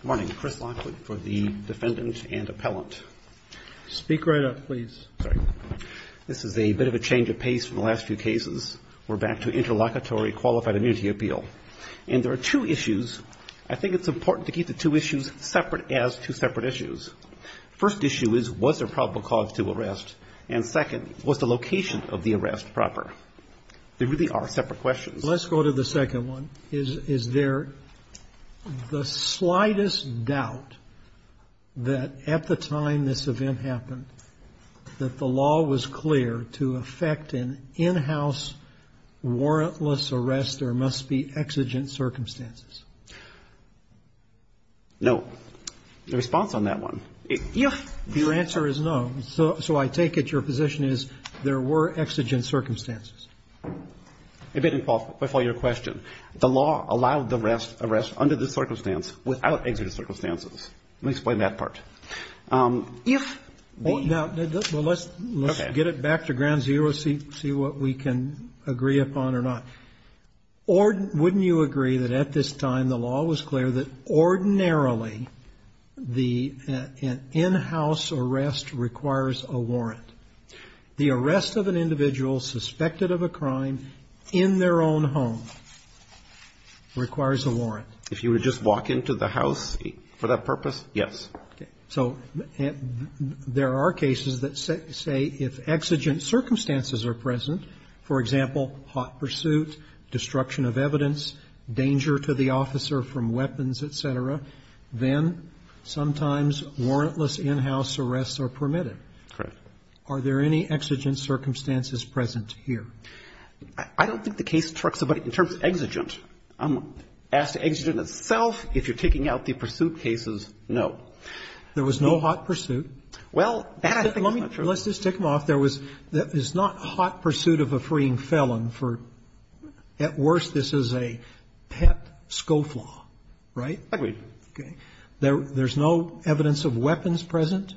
Good morning. Chris Lockwood for the defendant and appellant. Speak right up, please. This is a bit of a change of pace from the last few cases. We're back to interlocutory qualified immunity appeal. And there are two issues. I think it's important to keep the two issues separate as two separate issues. First issue is, was there probable cause to arrest? And second, was the location of the arrest proper? They really are separate questions. Let's go to the second one. Is there the slightest doubt that at the time this event happened, that the law was clear to effect an in-house warrantless arrest? There must be exigent circumstances. No. The response on that one. Your answer is no. So I take it your position is there were exigent circumstances. It didn't qualify your question. The law allowed the arrest under the circumstance without exigent circumstances. Let me explain that part. If the ---- Now, let's get it back to ground zero, see what we can agree upon or not. Wouldn't you agree that at this time the law was clear that ordinarily the in-house arrest requires a warrant? The arrest of an individual suspected of a crime in their own home requires a warrant. If you would just walk into the house for that purpose, yes. So there are cases that say if exigent circumstances are present, for example, hot pursuit, destruction of evidence, danger to the officer from weapons, et cetera, then sometimes warrantless in-house arrests are permitted. Correct. Are there any exigent circumstances present here? I don't think the case talks about it in terms of exigent. I'm going to ask the exigent itself. If you're taking out the pursuit cases, no. There was no hot pursuit. Well, that's a different question. Let's just tick them off. There was not hot pursuit of a freeing felon. At worst, this is a pet scofflaw. Right? Agreed. Okay. There's no evidence of weapons present.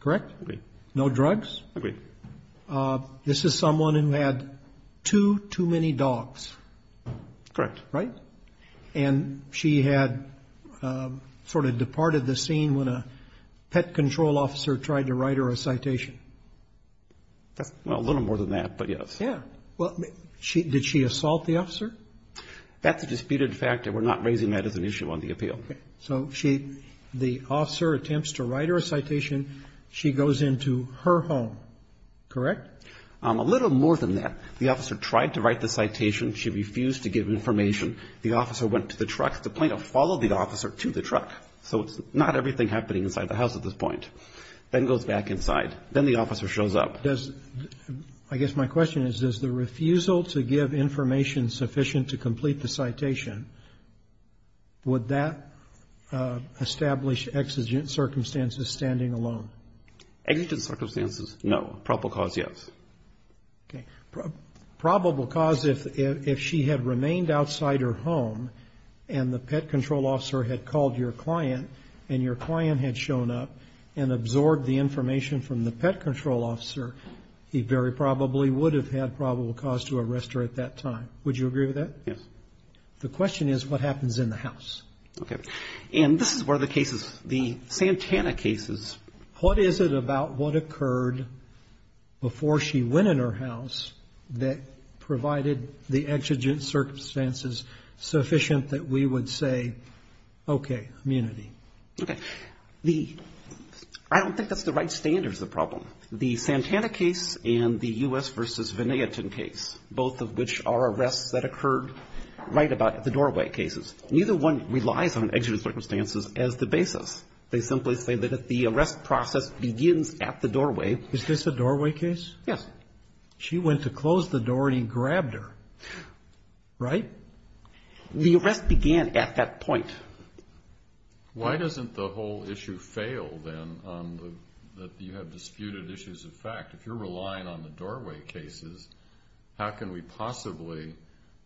Correct? Agreed. No drugs? Agreed. This is someone who had too, too many dogs. Correct. Right? And she had sort of departed the scene when a pet control officer tried to write her a citation. Well, a little more than that, but yes. Yeah. Did she assault the officer? That's a disputed fact, and we're not raising that as an issue on the appeal. Okay. So the officer attempts to write her a citation. She goes into her home. Correct? A little more than that. The officer tried to write the citation. She refused to give information. The officer went to the truck. The plaintiff followed the officer to the truck. So it's not everything happening inside the house at this point. Then goes back inside. Then the officer shows up. I guess my question is, does the refusal to give information sufficient to complete the citation, would that establish exigent circumstances, standing alone? Exigent circumstances, no. Probable cause, yes. Okay. Probable cause, if she had remained outside her home and the pet control officer had called your client and your client had shown up and absorbed the information from the pet control officer, he very probably would have had probable cause to arrest her at that time. Would you agree with that? Yes. The question is, what happens in the house? Okay. And this is one of the cases, the Santana cases. What is it about what occurred before she went in her house that provided the exigent circumstances sufficient that we would say, okay, immunity? Okay. I don't think that's the right standard is the problem. The Santana case and the U.S. v. Veneaton case, both of which are arrests that occurred right about at the doorway cases, neither one relies on exigent circumstances as the basis. They simply say that if the arrest process begins at the doorway Is this a doorway case? Yes. She went to close the door and he grabbed her, right? The arrest began at that point. Why doesn't the whole issue fail, then, that you have disputed issues of fact? If you're relying on the doorway cases, how can we possibly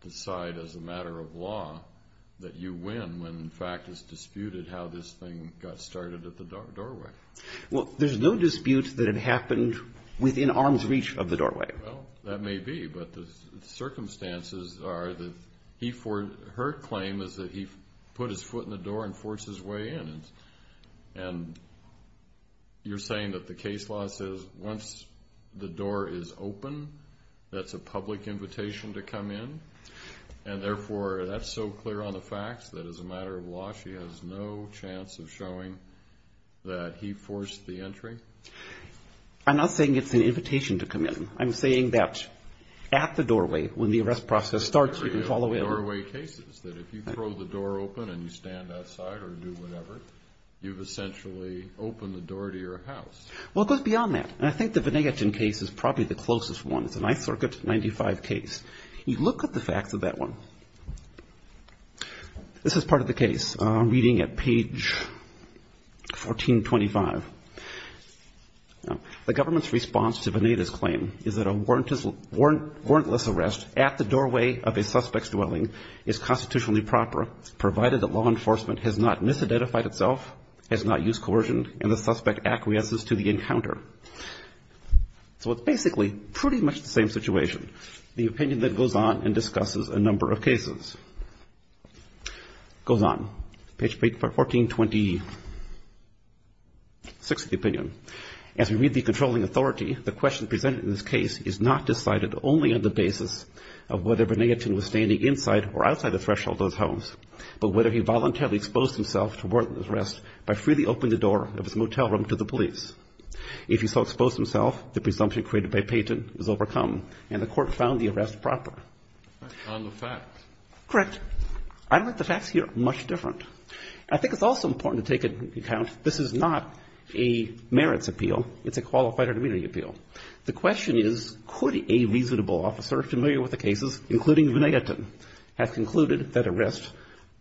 decide as a matter of law that you win when the fact is disputed how this thing got started at the doorway? Well, there's no dispute that it happened within arm's reach of the doorway. Well, that may be. But the circumstances are that her claim is that he put his foot in the door and forced his way in. And you're saying that the case law says once the door is open, that's a public invitation to come in, and therefore that's so clear on the facts that as a matter of law she has no chance of showing that he forced the entry? I'm not saying it's an invitation to come in. I'm saying that at the doorway, when the arrest process starts, you can follow in. There are doorway cases that if you throw the door open and you stand outside or do whatever, you've essentially opened the door to your house. Well, it goes beyond that. And I think the Venetian case is probably the closest one. It's a Ninth Circuit 95 case. You look at the facts of that one. This is part of the case. This is reading at page 1425. The government's response to Veneta's claim is that a warrantless arrest at the doorway of a suspect's dwelling is constitutionally proper provided that law enforcement has not misidentified itself, has not used coercion, and the suspect acquiesces to the encounter. So it's basically pretty much the same situation, the opinion that goes on and discusses a number of cases. It goes on. Page 1426 of the opinion. As we read the controlling authority, the question presented in this case is not decided only on the basis of whether Venetian was standing inside or outside the threshold of those homes, but whether he voluntarily exposed himself to warrantless arrest by freely opening the door of his motel room to the police. If he so exposed himself, the presumption created by Peyton is overcome, and the court found the arrest proper. On the facts. Correct. I don't think the facts here are much different. I think it's also important to take into account this is not a merits appeal. It's a qualified or immunity appeal. The question is, could a reasonable officer familiar with the cases, including Venetian, have concluded that arrest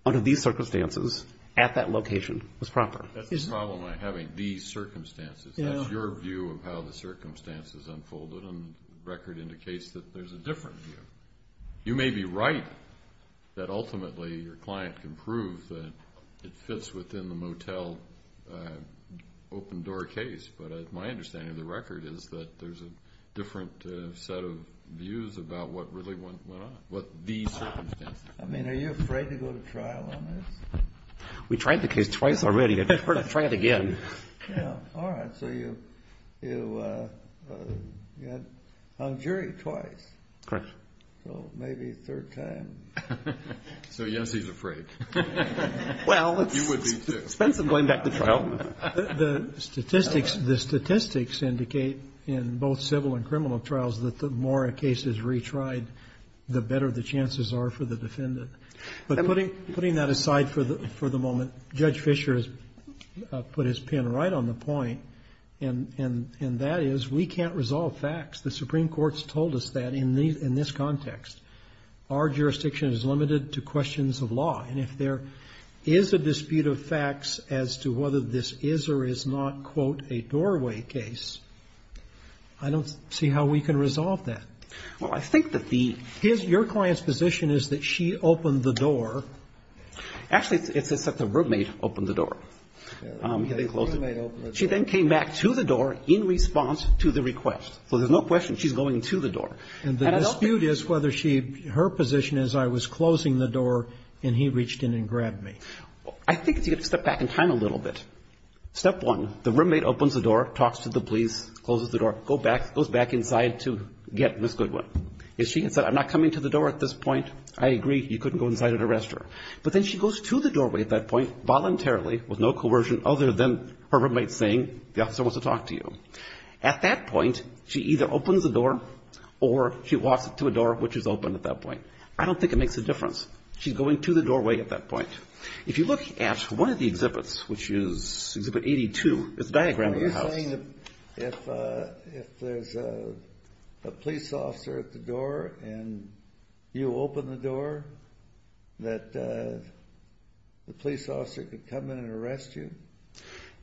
under these circumstances at that location was proper? That's the problem with having these circumstances. That's your view of how the circumstances unfolded, and the record indicates that there's a different view. You may be right that ultimately your client can prove that it fits within the motel open-door case, but my understanding of the record is that there's a different set of views about what really went on, what the circumstances. I mean, are you afraid to go to trial on this? We tried the case twice already. I've heard it tried again. Yeah. All right. So you had hung jury twice. Correct. So maybe a third time. So, yes, he's afraid. Well, it's expensive going back to trial. The statistics indicate in both civil and criminal trials that the more a case is retried, the better the chances are for the defendant. But putting that aside for the moment, Judge Fischer has put his pin right on the point, and that is we can't resolve facts. The Supreme Court's told us that in this context. Our jurisdiction is limited to questions of law, and if there is a dispute of facts as to whether this is or is not, quote, a doorway case, I don't see how we can resolve that. Well, I think that the... Your client's position is that she opened the door. Actually, it's that the roommate opened the door. The roommate opened the door. She then came back to the door in response to the request. So there's no question she's going to the door. And the dispute is whether she... her position is I was closing the door, and he reached in and grabbed me. I think you have to step back in time a little bit. Step one, the roommate opens the door, talks to the police, closes the door, goes back inside to get Ms. Goodwin. If she had said I'm not coming to the door at this point, I agree, you couldn't go inside and arrest her. But then she goes to the doorway at that point voluntarily with no coercion other than her roommate saying the officer wants to talk to you. At that point, she either opens the door or she walks to a door which is open at that point. I don't think it makes a difference. She's going to the doorway at that point. If you look at one of the exhibits, which is Exhibit 82, it's a diagram of the house. Are you saying that if there's a police officer at the door and you open the door, that the police officer could come in and arrest you?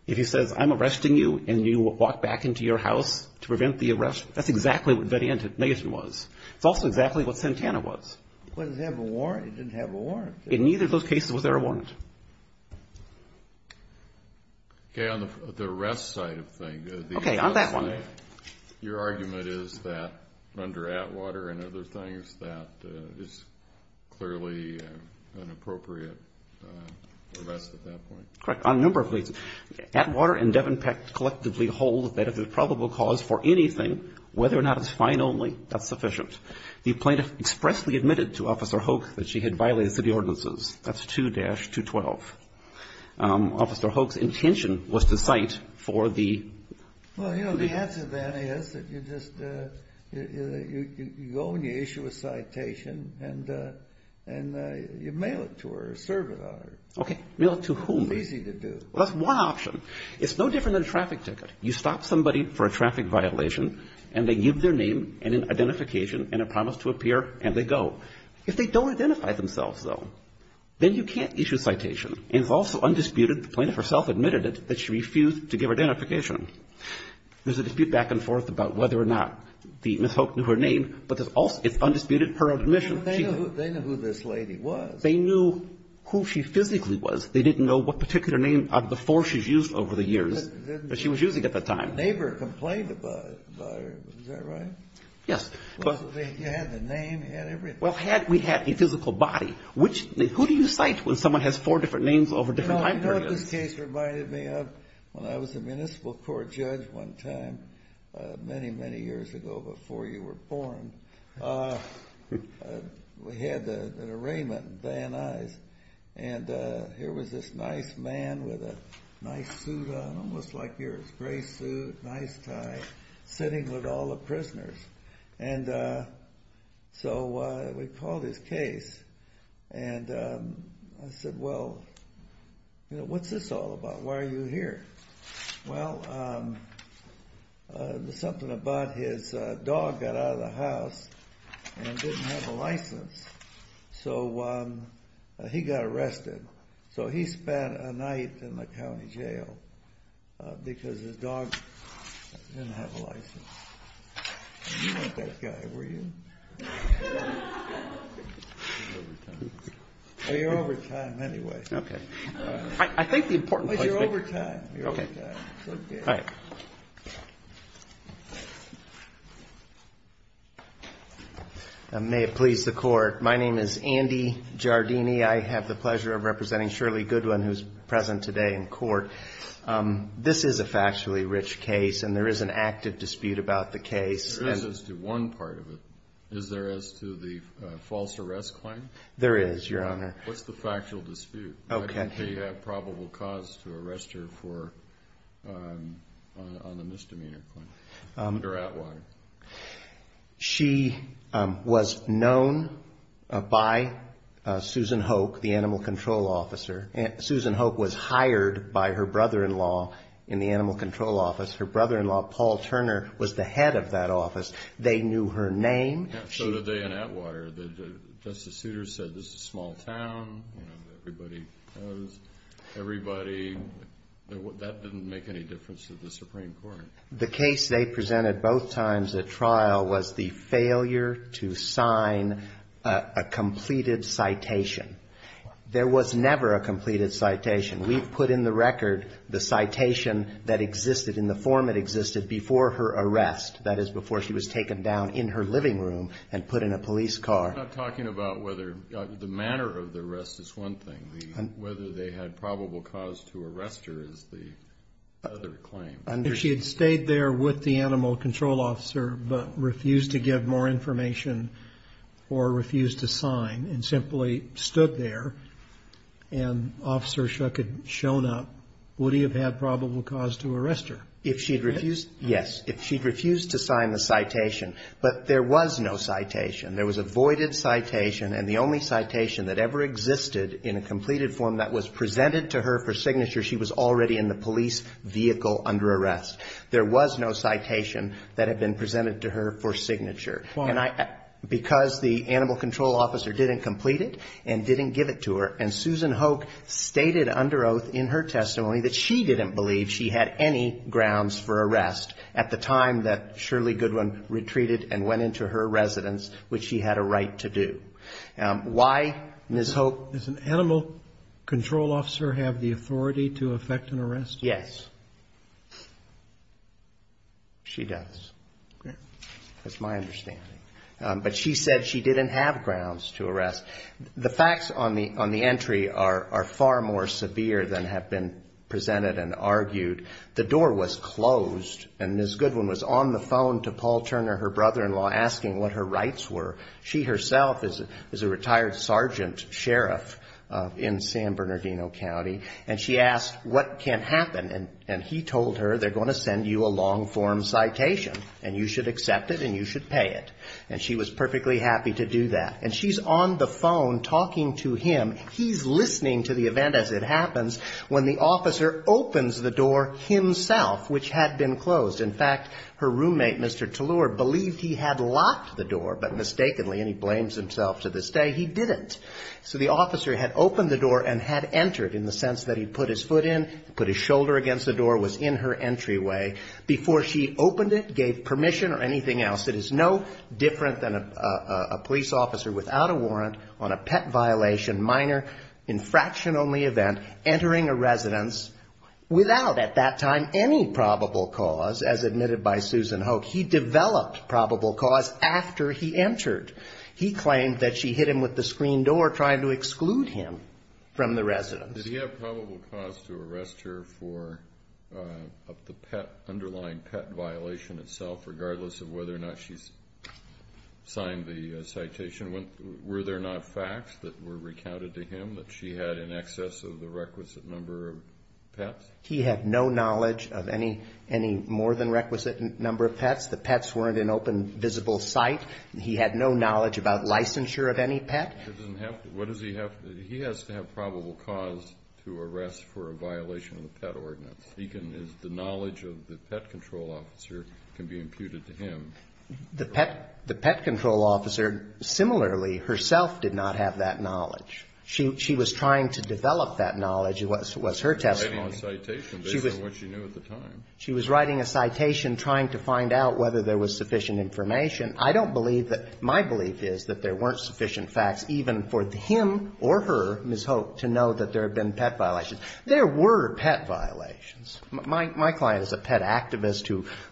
If he says I'm arresting you and you walk back into your house to prevent the arrest, that's exactly what Vediantin was. It's also exactly what Santana was. It didn't have a warrant. In neither of those cases was there a warrant. Okay. On the arrest side of things. Okay. On that one. Your argument is that under Atwater and other things that it's clearly an appropriate arrest at that point. Correct. On a number of reasons. Atwater and Devon Peck collectively hold that if there's probable cause for anything, whether or not it's fine only, that's sufficient. The plaintiff expressly admitted to Officer Hoke that she had violated city ordinances. That's 2-212. Officer Hoke's intention was to cite for the ---- Well, you know, the answer to that is that you just go and you issue a citation and you mail it to her or serve it on her. Okay. Mail it to whom? It's easy to do. That's one option. It's no different than a traffic ticket. You stop somebody for a traffic violation, and they give their name and an identification and a promise to appear, and they go. If they don't identify themselves, though, then you can't issue a citation. And it's also undisputed, the plaintiff herself admitted it, that she refused to give identification. There's a dispute back and forth about whether or not Ms. Hoke knew her name, but it's undisputed her own admission. They knew who this lady was. They knew who she physically was. They didn't know what particular name before she was used over the years that she was using at the time. A neighbor complained about her. Is that right? Yes. You had the name. You had everything. Well, had we had a physical body, which ---- Who do you cite when someone has four different names over different time periods? I know this case reminded me of when I was a municipal court judge one time many, many years ago before you were born. We had an arraignment at Van Nuys, and here was this nice man with a nice suit on, almost like yours, gray suit, nice tie, sitting with all the prisoners. And so we called his case, and I said, well, what's this all about? Why are you here? Well, something about his dog got out of the house and didn't have a license, so he got arrested. So he spent a night in the county jail because his dog didn't have a license. You weren't that guy, were you? I'm over time. Oh, you're over time anyway. Okay. I think the important point is you're over time. Okay. All right. May it please the Court, my name is Andy Giardini. I have the pleasure of representing Shirley Goodwin, who's present today in court. This is a factually rich case, and there is an active dispute about the case. There is as to one part of it. Is there as to the false arrest claim? There is, Your Honor. What's the factual dispute? Okay. Why didn't they have probable cause to arrest her on the misdemeanor claim under Atwater? She was known by Susan Hoke, the animal control officer. Susan Hoke was hired by her brother-in-law in the animal control office. Her brother-in-law, Paul Turner, was the head of that office. They knew her name. So did they in Atwater. Justice Souter said this is a small town, you know, everybody knows everybody. That didn't make any difference to the Supreme Court. The case they presented both times at trial was the failure to sign a completed citation. There was never a completed citation. We've put in the record the citation that existed in the form it existed before her arrest, that is before she was taken down in her living room and put in a police car. We're not talking about whether the manner of the arrest is one thing. Whether they had probable cause to arrest her is the other claim. If she had stayed there with the animal control officer but refused to give more information or refused to sign and simply stood there and Officer Shuck had shown up, would he have had probable cause to arrest her? If she had refused, yes. If she had refused to sign the citation. But there was no citation. There was a voided citation. And the only citation that ever existed in a completed form that was presented to her for signature, she was already in the police vehicle under arrest. There was no citation that had been presented to her for signature. Why? Because the animal control officer didn't complete it and didn't give it to her. And Susan Hoke stated under oath in her testimony that she didn't believe she had any grounds for arrest at the time that Shirley Goodwin retreated and went into her residence, which she had a right to do. Why, Ms. Hoke? Does an animal control officer have the authority to effect an arrest? Yes. She does. That's my understanding. But she said she didn't have grounds to arrest. The facts on the entry are far more severe than have been presented and argued. The door was closed. And Ms. Goodwin was on the phone to Paul Turner, her brother-in-law, asking what her rights were. She herself is a retired sergeant sheriff in San Bernardino County. And she asked, what can happen? And he told her, they're going to send you a long-form citation. And you should accept it and you should pay it. And she was perfectly happy to do that. And she's on the phone talking to him. He's listening to the event as it happens when the officer opens the door himself, which had been closed. In fact, her roommate, Mr. Tallur, believed he had locked the door, but mistakenly, and he blames himself to this day, he didn't. So the officer had opened the door and had entered in the sense that he put his foot in, put his shoulder against the door, was in her entryway before she opened it, gave permission or anything else. It is no different than a police officer without a warrant on a pet violation, minor, infraction-only event, entering a residence without, at that time, any probable cause, as admitted by Susan Hoke. He developed probable cause after he entered. He claimed that she hit him with the screen door, trying to exclude him from the residence. Did he have probable cause to arrest her for the underlying pet violation itself, regardless of whether or not she signed the citation? Were there not facts that were recounted to him that she had in excess of the requisite number of pets? He had no knowledge of any more than requisite number of pets. The pets weren't in open, visible sight. He had no knowledge about licensure of any pet. It doesn't have to. What does he have? He has to have probable cause to arrest for a violation of the pet ordinance. He can use the knowledge of the pet control officer can be imputed to him. The pet control officer, similarly, herself did not have that knowledge. She was trying to develop that knowledge was her testimony. She was writing a citation based on what she knew at the time. She was writing a citation trying to find out whether there was sufficient information. My belief is that there weren't sufficient facts even for him or her, Ms. Hope, to know that there had been pet violations. There were pet violations. My client is a pet activist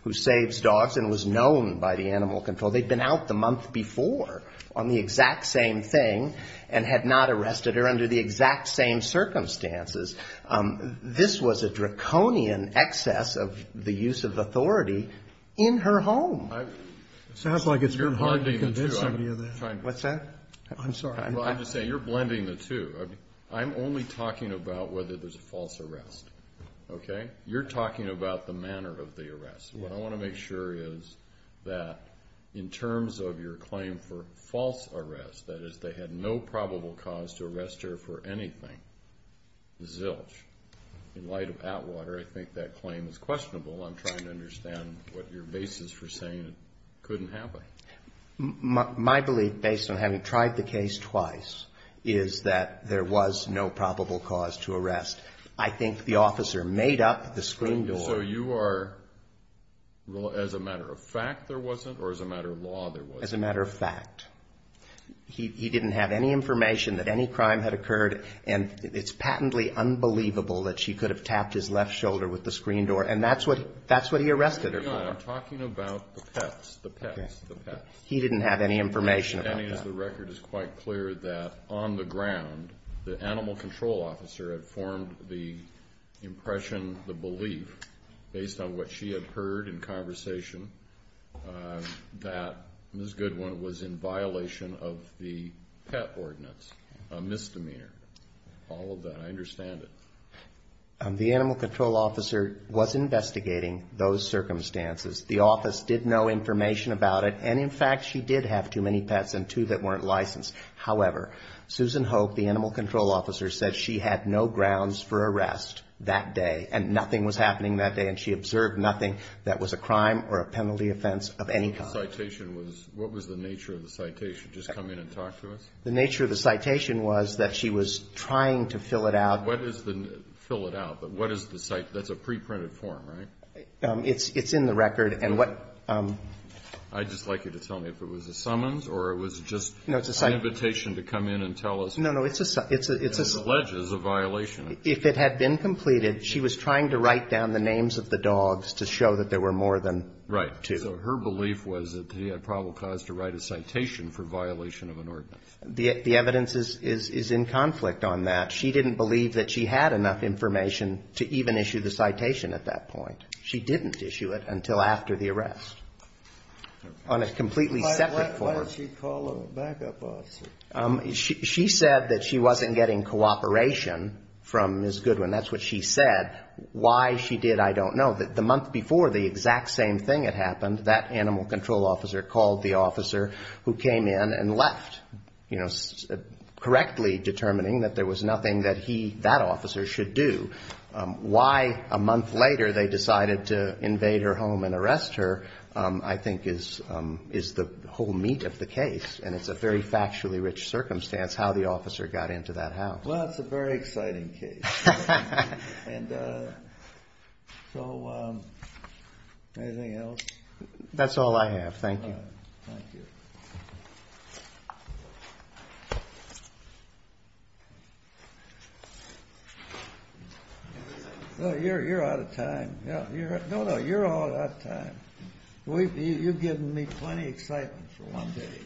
who saves dogs and was known by the animal control. They'd been out the month before on the exact same thing and had not arrested her under the exact same circumstances. This was a draconian excess of the use of authority in her home. It sounds like it's been hard to convince me of that. What's that? I'm sorry. Well, I'm just saying you're blending the two. I'm only talking about whether there's a false arrest. Okay? You're talking about the manner of the arrest. What I want to make sure is that in terms of your claim for false arrest, that is, they had no probable cause to arrest her for anything, zilch. In light of Atwater, I think that claim is questionable. I'm trying to understand what your basis for saying it couldn't happen. My belief, based on having tried the case twice, is that there was no probable cause to arrest. I think the officer made up the screen door. So you are as a matter of fact there wasn't or as a matter of law there wasn't? As a matter of fact. He didn't have any information that any crime had occurred. And it's patently unbelievable that she could have tapped his left shoulder with the screen door. And that's what he arrested her for. I'm talking about the pets, the pets, the pets. He didn't have any information about that. The record is quite clear that on the ground, the animal control officer had formed the impression, the belief, based on what she had heard in conversation, that Ms. Goodwin was in violation of the pet ordinance, a misdemeanor. All of that. I understand it. The animal control officer was investigating those circumstances. The office did know information about it. And, in fact, she did have too many pets and two that weren't licensed. However, Susan Hope, the animal control officer, said she had no grounds for arrest that day. And nothing was happening that day. And she observed nothing that was a crime or a penalty offense of any kind. The citation was, what was the nature of the citation? Just come in and talk to us? The nature of the citation was that she was trying to fill it out. Fill it out. But what is the citation? That's a preprinted form, right? It's in the record. I'd just like you to tell me if it was a summons or it was just an invitation to come in and tell us. No, no. It's a citation. It alleges a violation. If it had been completed, she was trying to write down the names of the dogs to show that there were more than two. Right. So her belief was that she had probable cause to write a citation for violation of an ordinance. The evidence is in conflict on that. But she didn't believe that she had enough information to even issue the citation at that point. She didn't issue it until after the arrest on a completely separate form. Why did she call a backup officer? She said that she wasn't getting cooperation from Ms. Goodwin. That's what she said. Why she did, I don't know. The month before, the exact same thing had happened. That animal control officer called the officer who came in and left, you know, correctly determining that there was nothing that he, that officer, should do. Why a month later they decided to invade her home and arrest her, I think, is the whole meat of the case. And it's a very factually rich circumstance how the officer got into that house. Well, it's a very exciting case. And so anything else? That's all I have. Thank you. Thank you. You're out of time. No, no, you're all out of time. You've given me plenty of excitement for one day.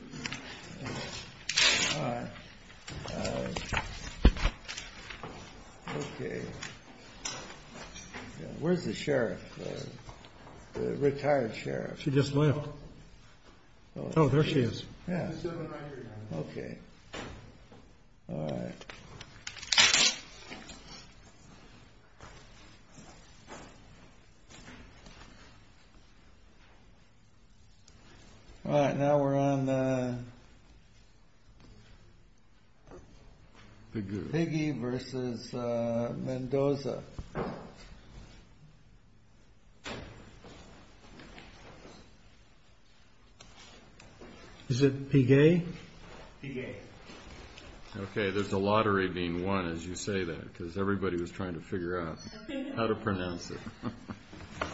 All right. Okay. Where's the sheriff? The retired sheriff. She just left. Oh, there she is. Yeah. Okay. All right. All right. Now we're on the Piggy versus Mendoza. Piggy. Okay, there's a lottery being won as you say that because everybody was trying to figure out how to pronounce it.